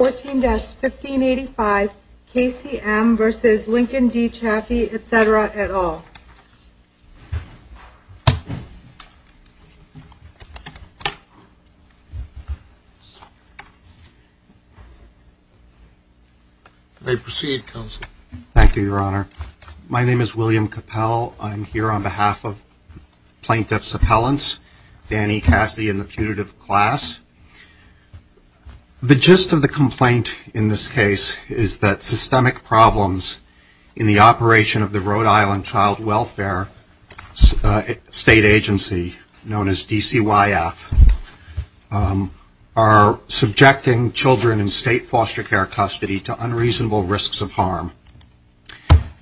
14-1585 K.C.M. v. Lincoln D. Chafee, etc. et al. May I proceed, Counsel? Thank you, Your Honor. My name is William Capell. I'm here on behalf of Plaintiffs' Appellants, Danny Cassidy and the putative class. The gist of the complaint in this case is that systemic problems in the operation of the Rhode Island Child Welfare State Agency, known as DCYF, are subjecting children in state foster care custody to unreasonable risks of harm.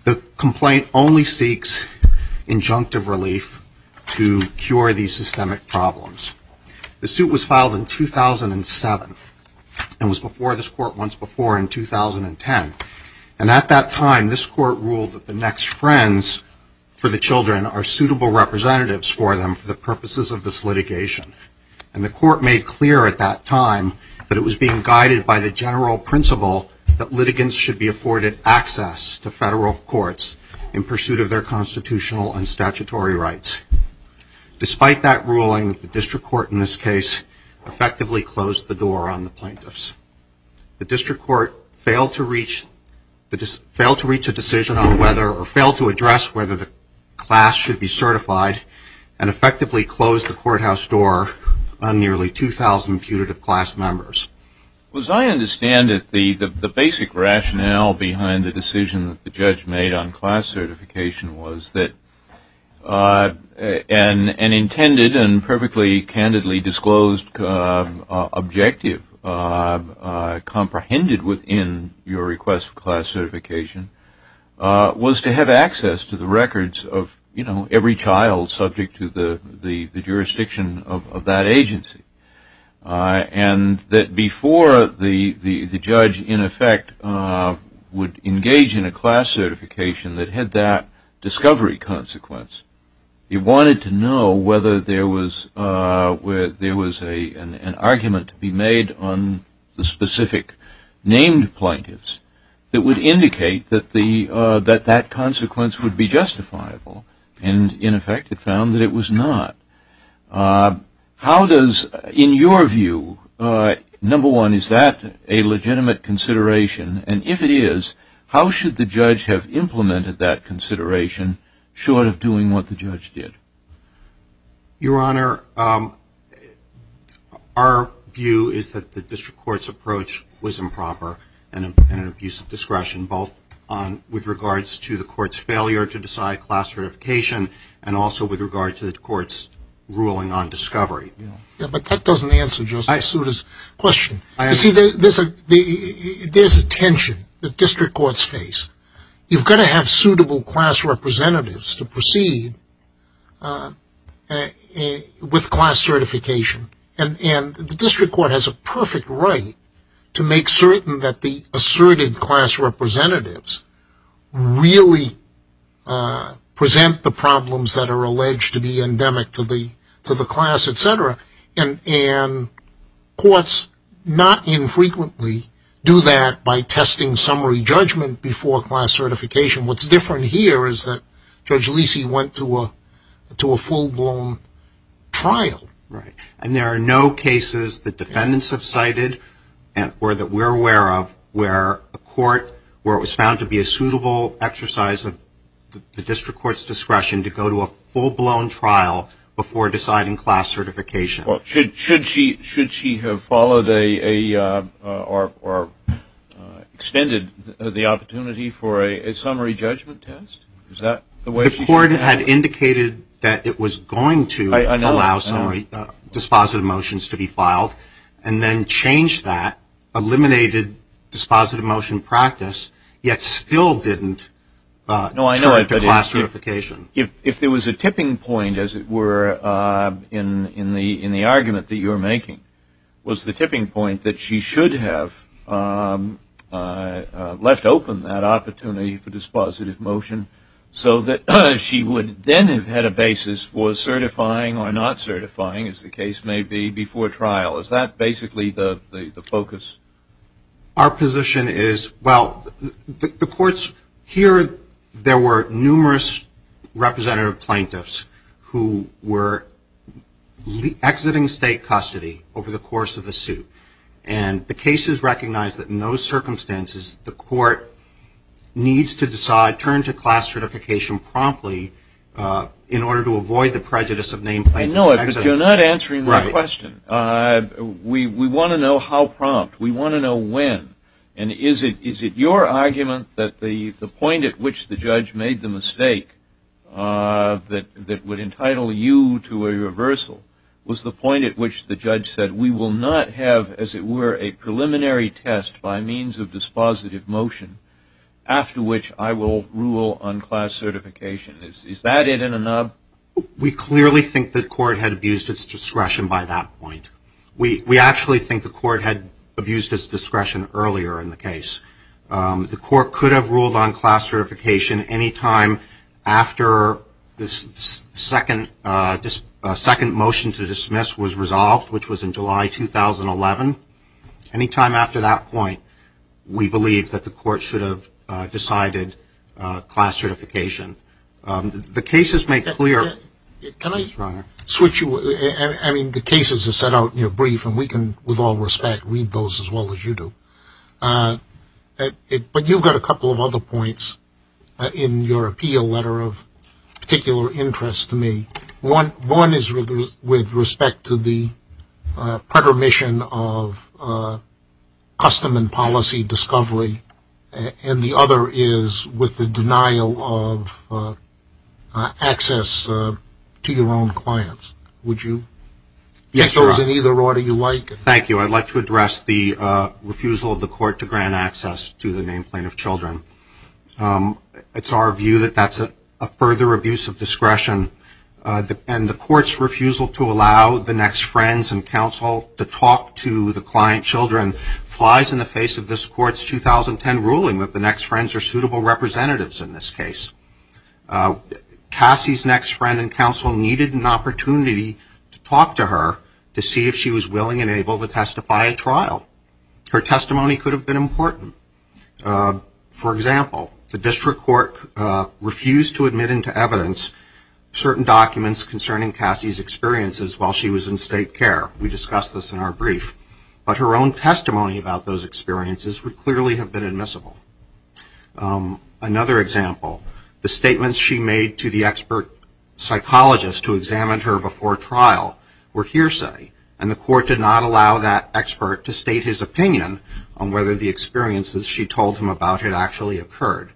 The complaint only seeks injunctive relief to cure these systemic problems. The suit was filed in 2007 and was before this Court once before in 2010. And at that time, this Court ruled that the next friends for the children are suitable representatives for them for the purposes of this litigation. And the Court made clear at that time that it was being guided by the general principle that litigants should be afforded access to federal courts in pursuit of their constitutional and statutory rights. Despite that ruling, the District Court in this case effectively closed the door on the plaintiffs. The District Court failed to reach a decision on whether or failed to address whether the class should be certified and effectively closed the courthouse door on nearly 2,000 putative class members. As I understand it, the basic rationale behind the decision that the judge made on class certification was that an intended and perfectly candidly disclosed objective, comprehended within your request for class certification, was to have access to the records of every child subject to the jurisdiction of that agency. And that before the judge, in effect, would engage in a class certification that had that discovery consequence, he wanted to know whether there was an argument to be made on the specific named plaintiffs that would indicate that that consequence would be justifiable. And, in effect, it found that it was not. How does, in your view, number one, is that a legitimate consideration? And if it is, how should the judge have implemented that consideration short of doing what the judge did? Your Honor, our view is that the District Court's approach was improper and an abuse of discretion, both with regards to the Court's failure to decide class certification and also with regard to the Court's ruling on discovery. But that doesn't answer Justice Souta's question. You see, there's a tension that District Courts face. You've got to have suitable class representatives to proceed with class certification. And the District Court has a perfect right to make certain that the asserted class representatives really present the problems that are alleged to be endemic to the class, etc. And courts not infrequently do that by testing summary judgment before class certification. What's different here is that Judge Lisi went to a full-blown trial. Right. And there are no cases that defendants have cited or that we're aware of where a court, where it was found to be a suitable exercise of the District Court's discretion to go to a full-blown trial before deciding class certification. Should she have followed or extended the opportunity for a summary judgment test? Is that the way she should have done it? The Court had indicated that it was going to allow summary dispositive motions to be filed and then changed that, eliminated dispositive motion practice, yet still didn't turn to class certification. If there was a tipping point, as it were, in the argument that you're making, was the tipping point that she should have left open that opportunity for dispositive motion so that she would then have had a basis for certifying or not certifying, as the case may be, before trial. Is that basically the focus? Our position is, well, the courts here, there were numerous representative plaintiffs who were exiting state custody over the course of the suit. And the cases recognize that in those circumstances, the court needs to decide, turn to class certification promptly in order to avoid the prejudice of named plaintiffs. You're not answering my question. We want to know how prompt. We want to know when. And is it your argument that the point at which the judge made the mistake that would entitle you to a reversal was the point at which the judge said, we will not have, as it were, a preliminary test by means of dispositive motion, after which I will rule on class certification? Is that it in a nub? We clearly think the court had abused its discretion by that point. We actually think the court had abused its discretion earlier in the case. The court could have ruled on class certification any time after the second motion to dismiss was resolved, which was in July 2011. Any time after that point, we believe that the court should have decided class certification. The cases make clear. Can I switch you? I mean, the cases are set out in your brief, and we can, with all respect, read those as well as you do. But you've got a couple of other points in your appeal letter of particular interest to me. One is with respect to the pretermission of custom and policy discovery, and the other is with the denial of access to your own clients. Would you take those in either order you like? Thank you. I'd like to address the refusal of the court to grant access to the named plaintiff children. It's our view that that's a further abuse of discretion, and the court's refusal to allow the next friends and counsel to talk to the client children flies in the face of this court's 2010 ruling that the next friends are suitable representatives in this case. Cassie's next friend and counsel needed an opportunity to talk to her to see if she was willing and able to testify at trial. Her testimony could have been important. For example, the district court refused to admit into evidence certain documents concerning Cassie's experiences while she was in state care. We discussed this in our brief. But her own testimony about those experiences would clearly have been admissible. Another example, the statements she made to the expert psychologist who examined her before trial were hearsay, and the court did not allow that expert to state his opinion on whether the experiences she told him about had actually occurred.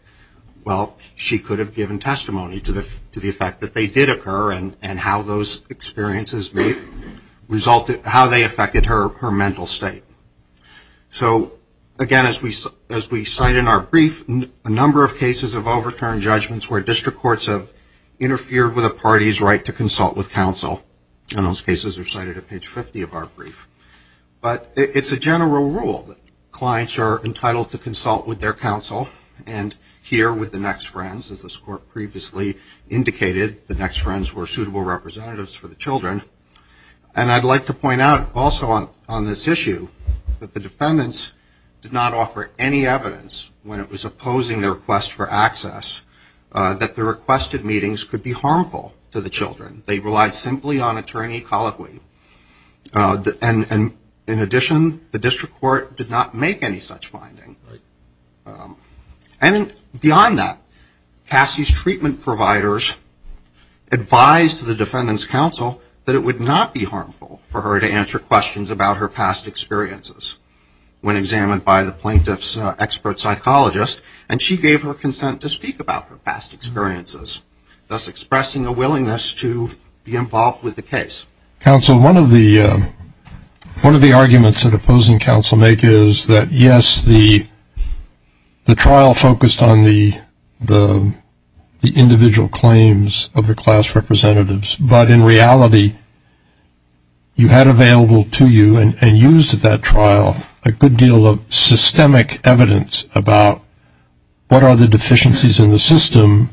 Well, she could have given testimony to the effect that they did occur and how those experiences may have affected her mental state. So, again, as we cite in our brief, a number of cases of overturned judgments where district courts have interfered with a party's right to consult with counsel. And those cases are cited at page 50 of our brief. But it's a general rule that clients are entitled to consult with their counsel and hear with the next friends, as this court previously indicated, the next friends were suitable representatives for the children. And I'd like to point out also on this issue that the defendants did not offer any evidence when it was opposing their request for access that the requested meetings could be harmful to the children. They relied simply on attorney colloquy. And in addition, the district court did not make any such finding. And beyond that, Cassie's treatment providers advised the defendant's counsel that it would not be harmful for her to answer questions about her past experiences when examined by the plaintiff's expert psychologist, and she gave her consent to speak about her past experiences, thus expressing a willingness to be involved with the case. Counsel, one of the arguments that opposing counsel make is that, yes, the trial focused on the individual claims of the class representatives, but in reality you had available to you and used at that trial a good deal of systemic evidence about what are the deficiencies in the system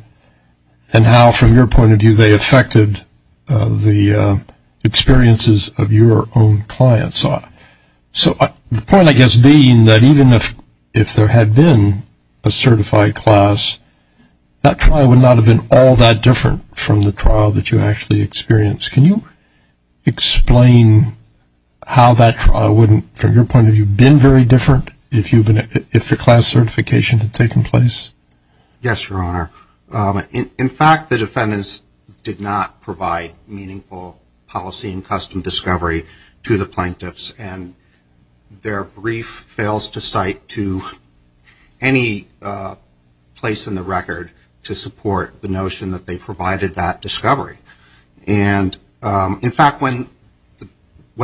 and how, from your point of view, they affected the experiences of your own clients. So the point, I guess, being that even if there had been a certified class, that trial would not have been all that different from the trial that you actually experienced. Can you explain how that trial wouldn't, from your point of view, been very different if the class certification had taken place? Yes, Your Honor. In fact, the defendants did not provide meaningful policy and custom discovery to the plaintiffs, and their brief fails to cite to any place in the record to support the notion that they provided that discovery. And, in fact, when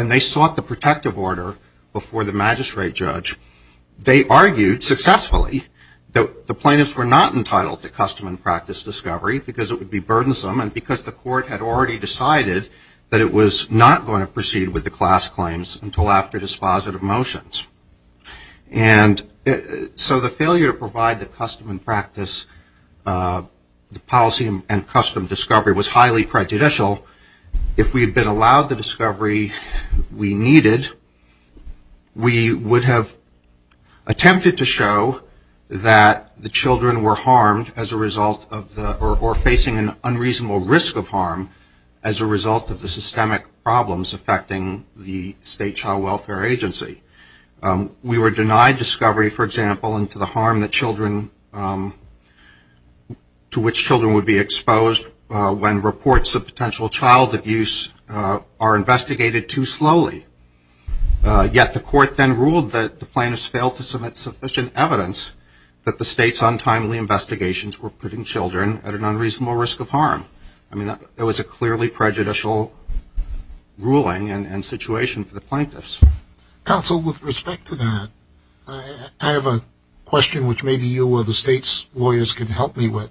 they sought the protective order before the magistrate judge, they argued successfully that the plaintiffs were not entitled to custom and practice discovery because it would be burdensome and because the court had already decided that it was not going to proceed with the class claims until after dispositive motions. And so the failure to provide the custom and practice, the policy and custom discovery, was highly prejudicial. If we had been allowed the discovery we needed, we would have attempted to show that the children were harmed as a result of the, or facing an unreasonable risk of harm as a result of the systemic problems affecting the state child welfare agency. We were denied discovery, for example, into the harm that children, to which children would be exposed when reports of potential child abuse are investigated too slowly. Yet the court then ruled that the plaintiffs failed to submit sufficient evidence that the state's untimely investigations were putting children at an unreasonable risk of harm. I mean, that was a clearly prejudicial ruling and situation for the plaintiffs. Counsel, with respect to that, I have a question which maybe you or the state's lawyers can help me with.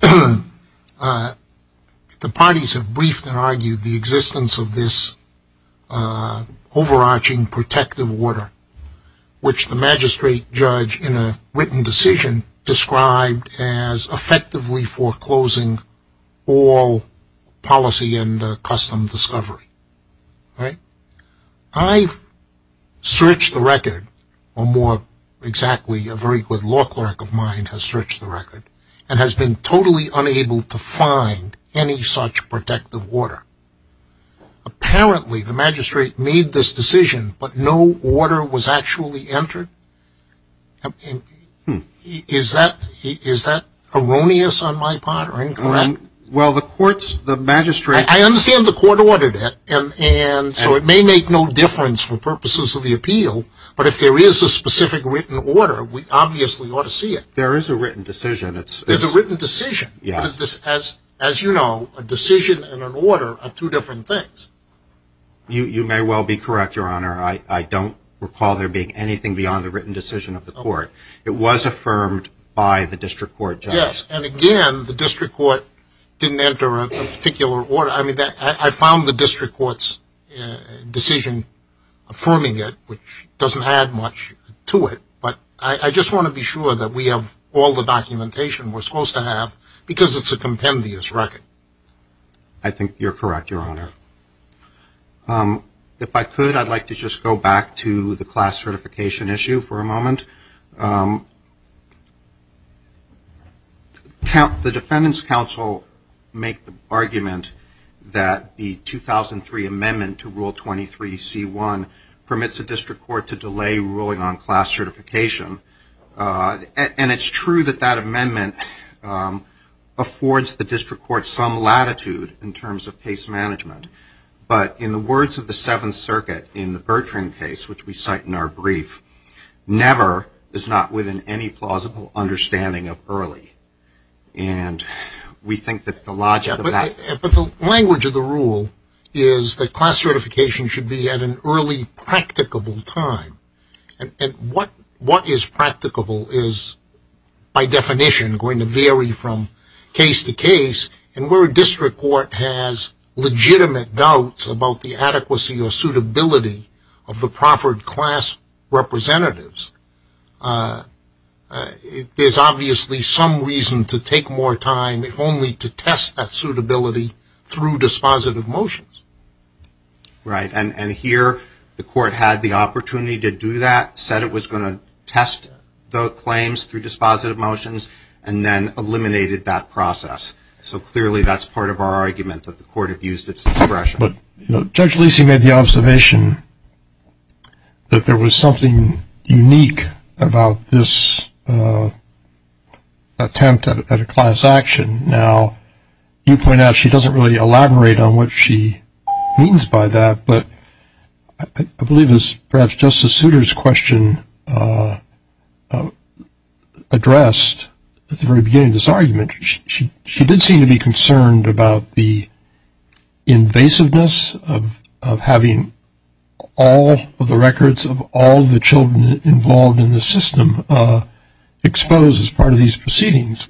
The parties have briefed and argued the existence of this overarching protective order, which the magistrate judge in a written decision described as effectively foreclosing all policy and custom discovery. I've searched the record, or more exactly a very good law clerk of mine has searched the record, and has been totally unable to find any such protective order. Apparently the magistrate made this decision, but no order was actually entered? Is that erroneous on my part or incorrect? Well, the court's, the magistrate's... I understand the court ordered it, and so it may make no difference for purposes of the appeal, but if there is a specific written order, we obviously ought to see it. There is a written decision. There's a written decision. As you know, a decision and an order are two different things. You may well be correct, Your Honor. I don't recall there being anything beyond the written decision of the court. It was affirmed by the district court judge. Yes, and again, the district court didn't enter a particular order. I mean, I found the district court's decision affirming it, which doesn't add much to it, but I just want to be sure that we have all the documentation we're supposed to have, because it's a compendious record. I think you're correct, Your Honor. If I could, I'd like to just go back to the class certification issue for a moment. The defendants' counsel make the argument that the 2003 amendment to Rule 23C1 permits the district court to delay ruling on class certification, and it's true that that amendment affords the district court some latitude in terms of case management, but in the words of the Seventh Circuit in the Bertrand case, which we cite in our brief, never is not within any plausible understanding of early, and we think that the logic of that. But the language of the rule is that class certification should be at an early, practicable time, and what is practicable is, by definition, going to vary from case to case, and where a district court has legitimate doubts about the adequacy or suitability of the proffered class representatives, there's obviously some reason to take more time if only to test that suitability through dispositive motions. Right, and here the court had the opportunity to do that, said it was going to test the claims through dispositive motions, and then eliminated that process. So clearly that's part of our argument that the court abused its discretion. But Judge Lisi made the observation that there was something unique about this attempt at a class action. Now, you point out she doesn't really elaborate on what she means by that, but I believe it was perhaps Justice Souter's question addressed at the very beginning of this argument. She did seem to be concerned about the invasiveness of having all of the records of all the children involved in the system exposed as part of these proceedings.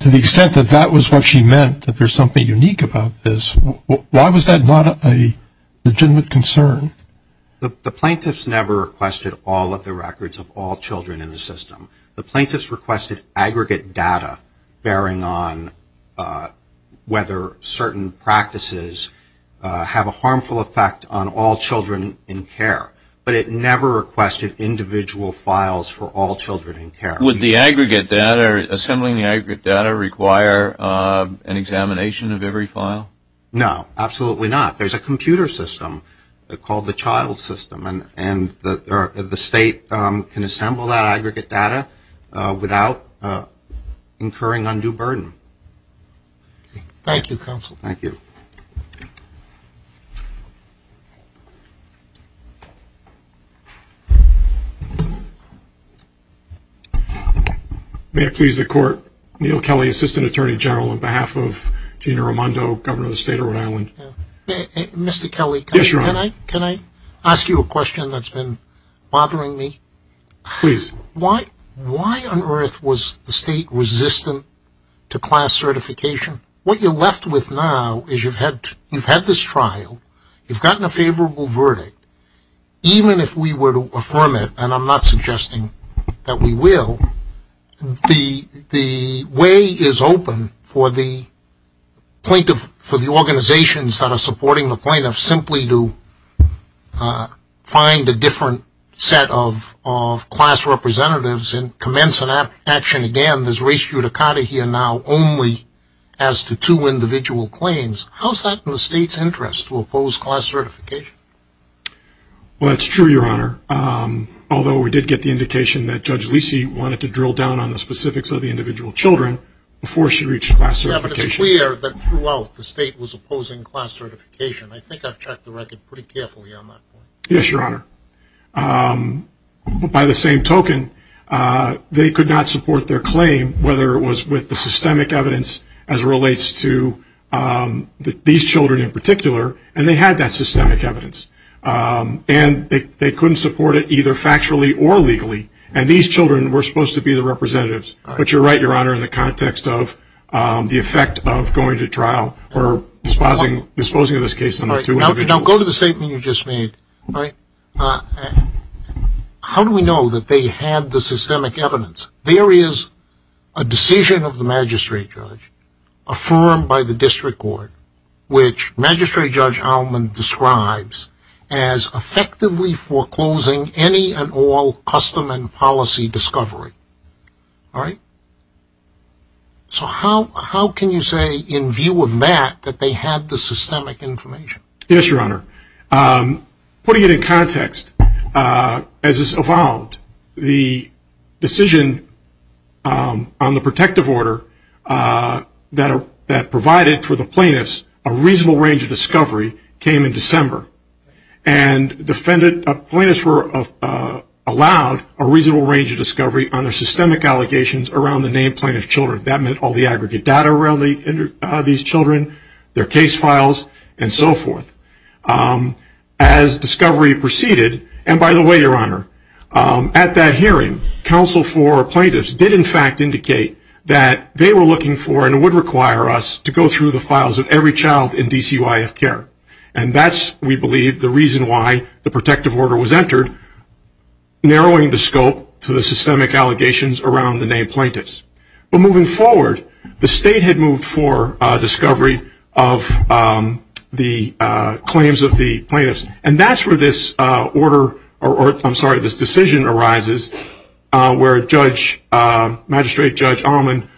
To the extent that that was what she meant, that there's something unique about this, why was that not a legitimate concern? The plaintiffs never requested all of the records of all children in the system. The plaintiffs requested aggregate data, bearing on whether certain practices have a harmful effect on all children in care. But it never requested individual files for all children in care. Would assembling the aggregate data require an examination of every file? No, absolutely not. There's a computer system called the child system, and the state can assemble that aggregate data without incurring undue burden. Thank you, Counsel. Thank you. May it please the Court, Neal Kelly, Assistant Attorney General, on behalf of Gina Raimondo, Governor of the State of Rhode Island. Mr. Kelly, can I ask you a question? It's a question that's been bothering me. Please. Why on earth was the state resistant to class certification? What you're left with now is you've had this trial, you've gotten a favorable verdict. Even if we were to affirm it, and I'm not suggesting that we will, the way is open for the organizations that are supporting the plaintiffs simply to find a different set of class representatives and commence an action again. There's race judicata here now only as to two individual claims. How is that in the state's interest to oppose class certification? Well, that's true, Your Honor, although we did get the indication that Judge Lisi wanted to drill down on the specifics of the individual children before she reached class certification. Yeah, but it's clear that throughout the state was opposing class certification. I think I've checked the record pretty carefully on that point. Yes, Your Honor. By the same token, they could not support their claim, whether it was with the systemic evidence as it relates to these children in particular, and they had that systemic evidence. And they couldn't support it either factually or legally, and these children were supposed to be the representatives. But you're right, Your Honor, in the context of the effect of going to trial or disposing of this case among two individuals. Now go to the statement you just made. How do we know that they had the systemic evidence? There is a decision of the magistrate judge affirmed by the district court, which Magistrate Judge Allman describes as effectively foreclosing any and all custom and policy discovery. All right? So how can you say in view of that that they had the systemic information? Yes, Your Honor. Putting it in context, as this evolved, the decision on the protective order that provided for the plaintiffs a reasonable range of discovery came in December and plaintiffs were allowed a reasonable range of discovery on their systemic allegations around the named plaintiff's children. That meant all the aggregate data around these children, their case files, and so forth. As discovery proceeded, and by the way, Your Honor, at that hearing, counsel for plaintiffs did in fact indicate that they were looking for and would require us to go through the files of every child in DCYF care. And that's, we believe, the reason why the protective order was entered, narrowing the scope to the systemic allegations around the named plaintiffs. But moving forward, the state had moved for discovery of the claims of the plaintiffs, and that's where this order, or I'm sorry, this decision arises, where Magistrate Judge Allman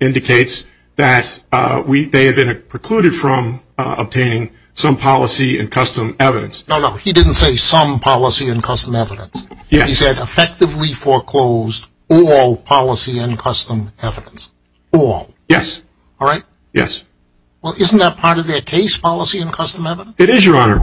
indicates that they had been precluded from obtaining some policy and custom evidence. No, no, he didn't say some policy and custom evidence. Yes. He said effectively foreclosed all policy and custom evidence. All. Yes. All right? Yes. Well, isn't that part of their case policy and custom evidence? It is, Your Honor.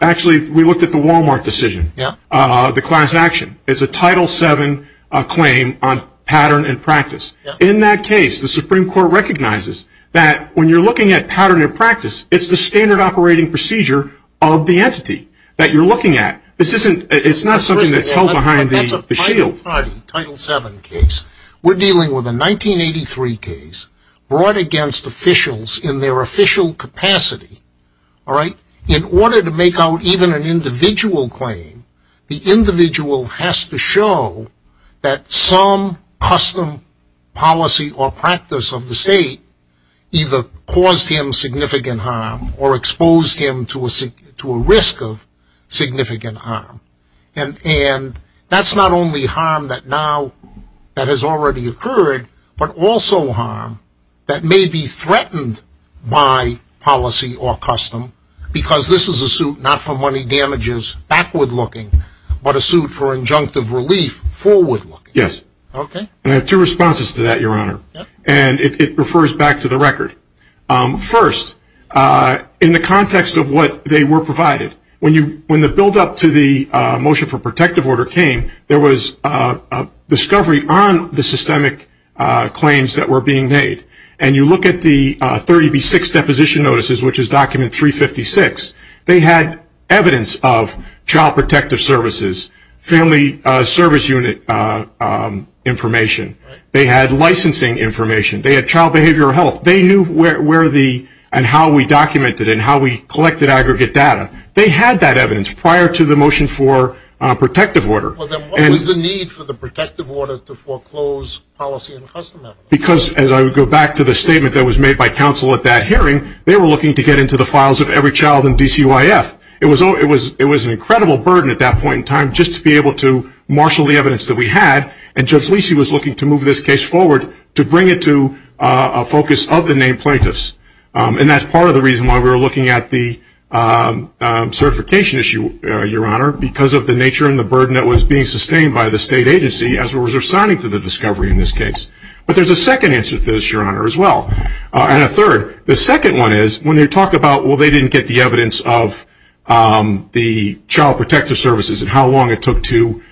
Actually, we looked at the Walmart decision, the class action. It's a Title VII claim on pattern and practice. In that case, the Supreme Court recognizes that when you're looking at pattern and practice, it's the standard operating procedure of the entity that you're looking at. It's not something that's held behind the shield. Title VII case, we're dealing with a 1983 case brought against officials in their official capacity. All right? In order to make out even an individual claim, the individual has to show that some custom policy or practice of the state either caused him significant harm or exposed him to a risk of significant harm. And that's not only harm that now, that has already occurred, but also harm that may be threatened by policy or custom because this is a suit not for money damages, backward looking, but a suit for injunctive relief, forward looking. Yes. Okay. And I have two responses to that, Your Honor. And it refers back to the record. First, in the context of what they were provided, when the buildup to the motion for protective order came, there was a discovery on the systemic claims that were being made. And you look at the 30B6 deposition notices, which is document 356, they had evidence of child protective services, family service unit information. They had licensing information. They had child behavioral health. They knew where the and how we documented it and how we collected aggregate data. They had that evidence prior to the motion for protective order. Well, then what was the need for the protective order to foreclose policy and customary? Because as I go back to the statement that was made by counsel at that hearing, they were looking to get into the files of every child in DCYF. It was an incredible burden at that point in time just to be able to marshal the evidence that we had. And Judge Lisi was looking to move this case forward to bring it to a focus of the named plaintiffs. And that's part of the reason why we were looking at the certification issue, Your Honor, because of the nature and the burden that was being sustained by the state agency as we were resigning to the discovery in this case. But there's a second answer to this, Your Honor, as well. And a third. The second one is when they talk about, well, they didn't get the evidence of the child protective services and how long it took to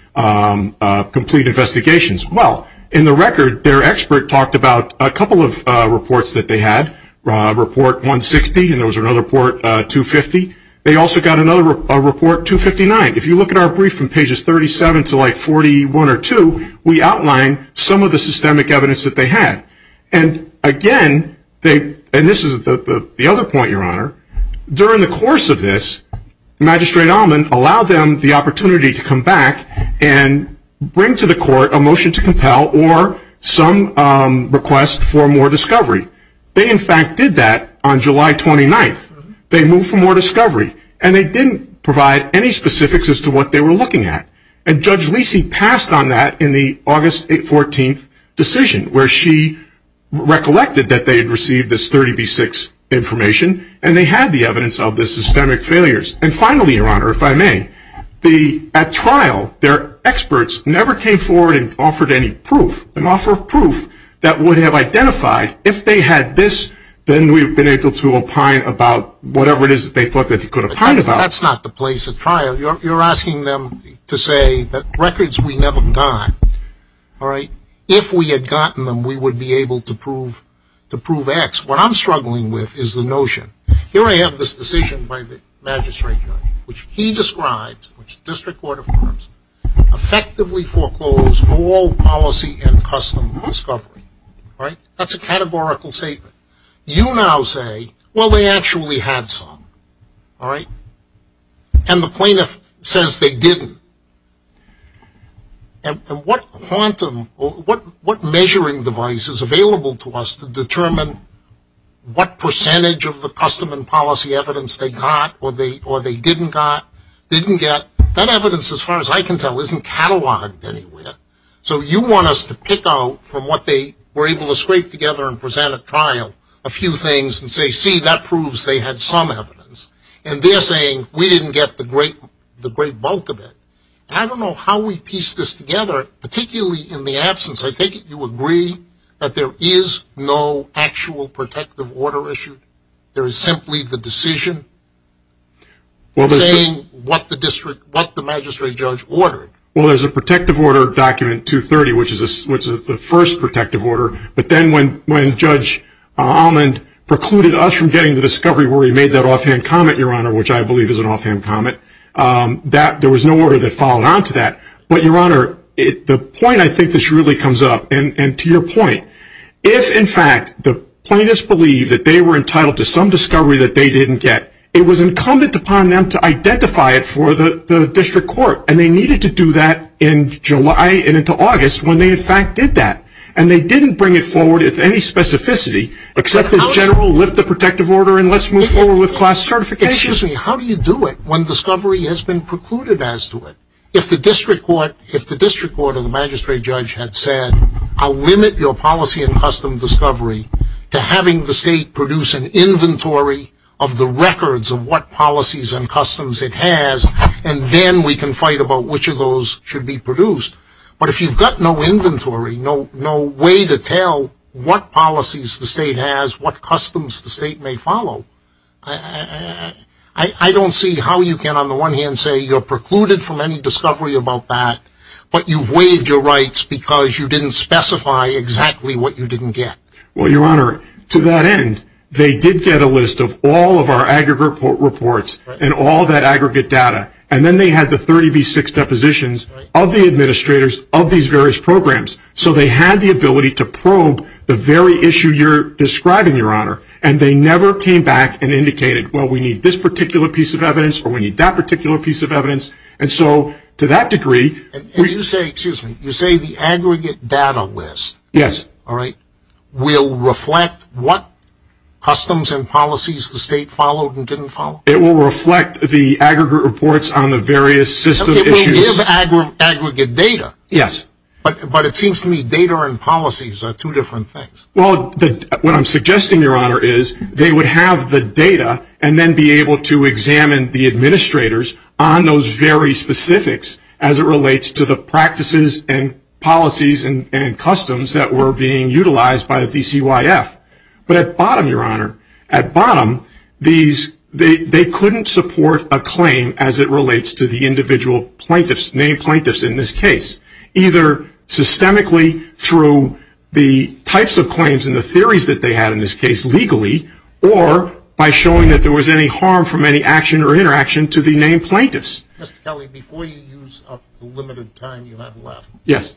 complete investigations. Well, in the record, their expert talked about a couple of reports that they had. Report 160 and there was another report, 250. They also got another report, 259. If you look at our brief from pages 37 to like 41 or 2, we outline some of the systemic evidence that they had. And again, and this is the other point, Your Honor, during the course of this, Magistrate Allman allowed them the opportunity to come back and bring to the court a motion to compel or some request for more discovery. They, in fact, did that on July 29th. They moved for more discovery. And they didn't provide any specifics as to what they were looking at. And Judge Lisi passed on that in the August 14th decision where she recollected that they had received this 30B6 information and they had the evidence of the systemic failures. And finally, Your Honor, if I may, at trial, their experts never came forward and offered any proof, an offer of proof that would have identified if they had this, then we've been able to opine about whatever it is that they thought that they could opine about. That's not the place at trial. You're asking them to say that records we never got, all right, if we had gotten them, we would be able to prove X. What I'm struggling with is the notion. Here I have this decision by the magistrate judge, which he describes, which the district court affirms, effectively foreclosed all policy and custom discovery. That's a categorical statement. You now say, well, they actually had some, all right? And the plaintiff says they didn't. And what quantum or what measuring device is available to us to determine what percentage of the custom and policy evidence they got or they didn't get, that evidence, as far as I can tell, isn't catalogued anywhere. So you want us to pick out from what they were able to scrape together and present at trial a few things and say, see, that proves they had some and they didn't get the great bulk of it. And I don't know how we piece this together, particularly in the absence. I think you agree that there is no actual protective order issued. There is simply the decision saying what the magistrate judge ordered. Well, there's a protective order document 230, which is the first protective order, but then when Judge Almond precluded us from getting the discovery where he made that offhand comment, Your Honor, which I believe is an offhand comment, there was no order that followed on to that. But, Your Honor, the point I think this really comes up, and to your point, if, in fact, the plaintiffs believe that they were entitled to some discovery that they didn't get, it was incumbent upon them to identify it for the district court, and they needed to do that in July and into August when they, in fact, did that. And they didn't bring it forward with any specificity, except as general, lift the protective order and let's move forward with class certification. Excuse me. How do you do it when discovery has been precluded as to it? If the district court and the magistrate judge had said, I'll limit your policy and custom discovery to having the state produce an inventory of the records of what policies and customs it has, and then we can fight about which of those should be produced. But if you've got no inventory, no way to tell what policies the state has, what customs the state may follow, I don't see how you can, on the one hand, say you're precluded from any discovery about that, but you've waived your rights because you didn't specify exactly what you didn't get. Well, Your Honor, to that end, they did get a list of all of our aggregate reports and all that aggregate data, and then they had the 30B6 depositions of the administrators of these various And they never came back and indicated, well, we need this particular piece of evidence or we need that particular piece of evidence. And so, to that degree, we. And you say, excuse me, you say the aggregate data list. Yes. All right, will reflect what customs and policies the state followed and didn't follow? It will reflect the aggregate reports on the various system issues. It will give aggregate data. Yes. But it seems to me data and policies are two different things. Well, what I'm suggesting, Your Honor, is they would have the data and then be able to examine the administrators on those very specifics as it relates to the practices and policies and customs that were being utilized by the DCYF. But at bottom, Your Honor, at bottom, they couldn't support a claim as it relates to the individual plaintiffs, named plaintiffs in this case, either systemically through the types of claims and the theories that they had in this case legally or by showing that there was any harm from any action or interaction to the named plaintiffs. Mr. Kelly, before you use up the limited time you have left. Yes.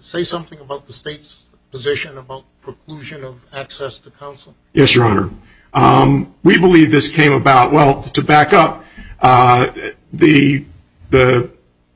Say something about the state's position about preclusion of access to counsel. Yes, Your Honor. We believe this came about, well, to back up, the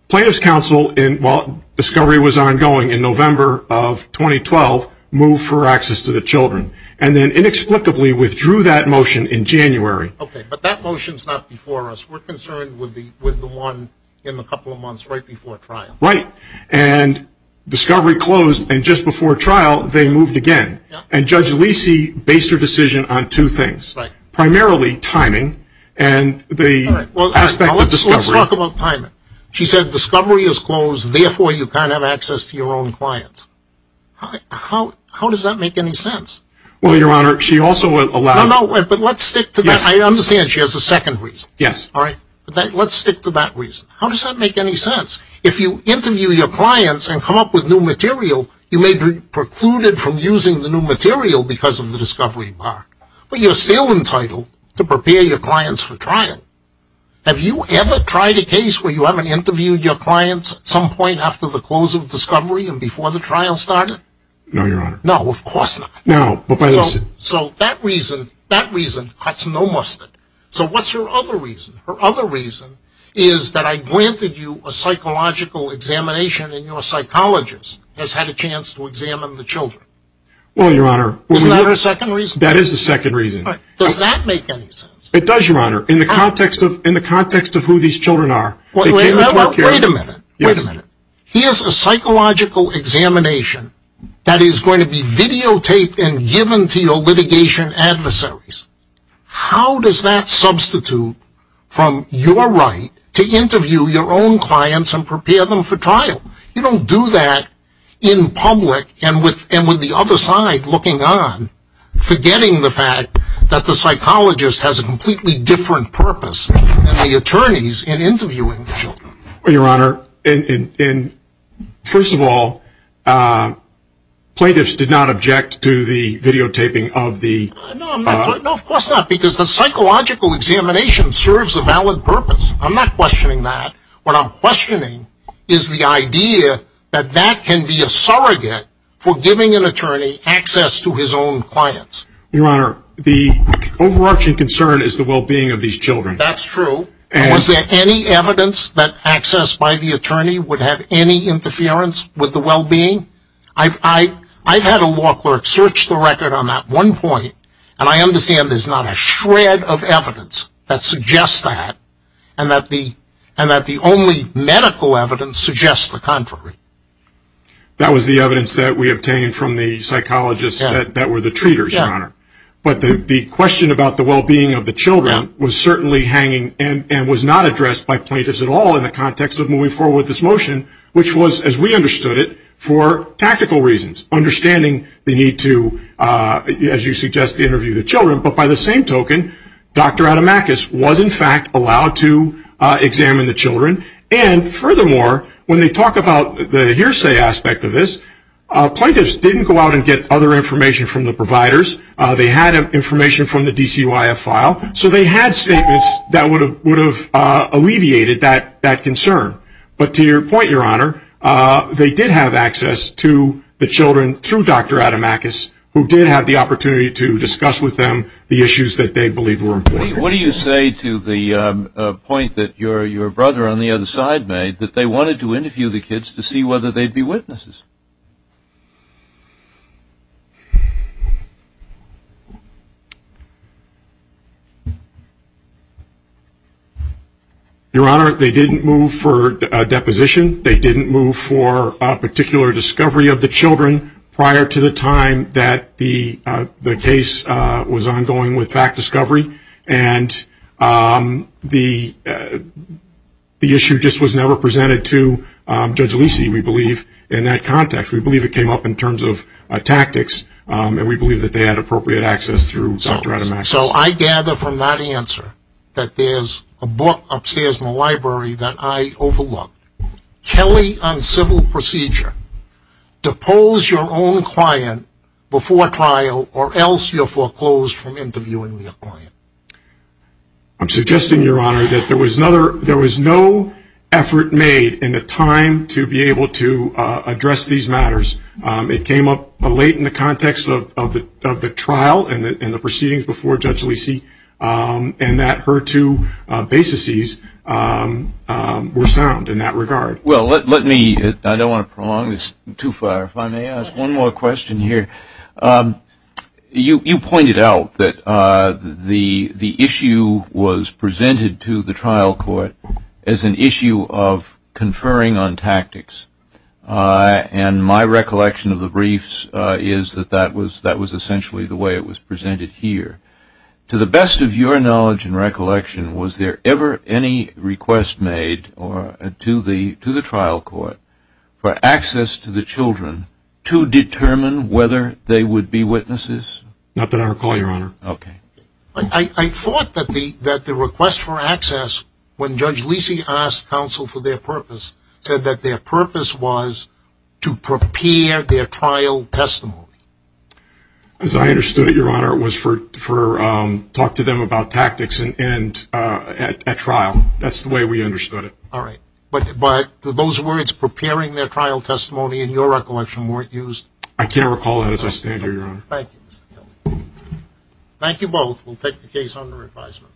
plaintiffs' counsel, while discovery was ongoing in November of 2012, moved for access to the children and then inexplicably withdrew that motion in January. Okay, but that motion is not before us. We're concerned with the one in the couple of months right before trial. Right. And discovery closed and just before trial they moved again. And Judge Lisi based her decision on two things. Right. Primarily timing and the aspect of discovery. Let's talk about timing. She said discovery is closed, therefore you can't have access to your own clients. How does that make any sense? Well, Your Honor, she also allowed. No, no, but let's stick to that. I understand she has a second reason. Yes. All right. Let's stick to that reason. How does that make any sense? If you interview your clients and come up with new material, you may be precluded from using the new material because of the discovery part. But you're still entitled to prepare your clients for trial. Have you ever tried a case where you haven't interviewed your clients at some point after the close of discovery and before the trial started? No, Your Honor. No, of course not. No, but listen. So that reason cuts no mustard. So what's her other reason? Her other reason is that I granted you a psychological examination and your psychologist has had a chance to examine the children. Well, Your Honor. Isn't that her second reason? That is the second reason. Does that make any sense? It does, Your Honor, in the context of who these children are. Well, wait a minute. Wait a minute. Here's a psychological examination that is going to be videotaped and given to your litigation adversaries. How does that substitute from your right to interview your own clients and prepare them for trial? You don't do that in public and with the other side looking on, forgetting the fact that the psychologist has a completely different purpose than the attorneys in interviewing the children. Well, Your Honor, first of all, plaintiffs did not object to the videotaping of the... No, of course not, because the psychological examination serves a valid purpose. I'm not questioning that. What I'm questioning is the idea that that can be a surrogate for giving an attorney access to his own clients. Your Honor, the overarching concern is the well-being of these children. That's true. Was there any evidence that access by the attorney would have any interference with the well-being? I've had a law clerk search the record on that one point, and I understand there's not a shred of evidence that suggests that and that the only medical evidence suggests the contrary. That was the evidence that we obtained from the psychologists that were the treaters, Your Honor. But the question about the well-being of the children was certainly hanging and was not addressed by plaintiffs at all in the context of moving forward with this motion, which was, as we understood it, for tactical reasons, understanding the need to, as you suggest, interview the children. But by the same token, Dr. Adamakis was, in fact, allowed to examine the children. And furthermore, when they talk about the hearsay aspect of this, plaintiffs didn't go out and get other information from the providers. They had information from the DCYF file, so they had statements that would have alleviated that concern. But to your point, Your Honor, they did have access to the children through Dr. Adamakis, who did have the opportunity to discuss with them the issues that they believed were important. What do you say to the point that your brother on the other side made, that they wanted to interview the kids to see whether they'd be witnesses? Your Honor, they didn't move for a deposition. They didn't move for a particular discovery of the children prior to the time that the case was ongoing with fact discovery. And the issue just was never presented to Judge Alici, we believe, in that context. We believe it came up in terms of tactics, and we believe that they had appropriate access through Dr. Adamakis. So I gather from that answer that there's a book upstairs in the library that I overlooked. Kelly on civil procedure. Depose your own client before trial, or else you're foreclosed from interviewing your client. I'm suggesting, Your Honor, that there was no effort made in the time to be able to address these matters. It came up late in the context of the trial and the proceedings before Judge Alici, and that her two baseses were sound in that regard. Well, let me, I don't want to prolong this too far. If I may ask one more question here. You pointed out that the issue was presented to the trial court as an issue of conferring on tactics. And my recollection of the briefs is that that was essentially the way it was presented here. To the best of your knowledge and recollection, was there ever any request made to the trial court for access to the children to determine whether they would be witnesses? Not that I recall, Your Honor. Okay. I thought that the request for access, when Judge Alici asked counsel for their purpose, said that their purpose was to prepare their trial testimony. As I understood it, Your Honor, it was to talk to them about tactics at trial. That's the way we understood it. All right. But those words, preparing their trial testimony, in your recollection, weren't used? I can't recall that as I stand here, Your Honor. Thank you, Mr. Kelly. Thank you both. We'll take the case under advisement.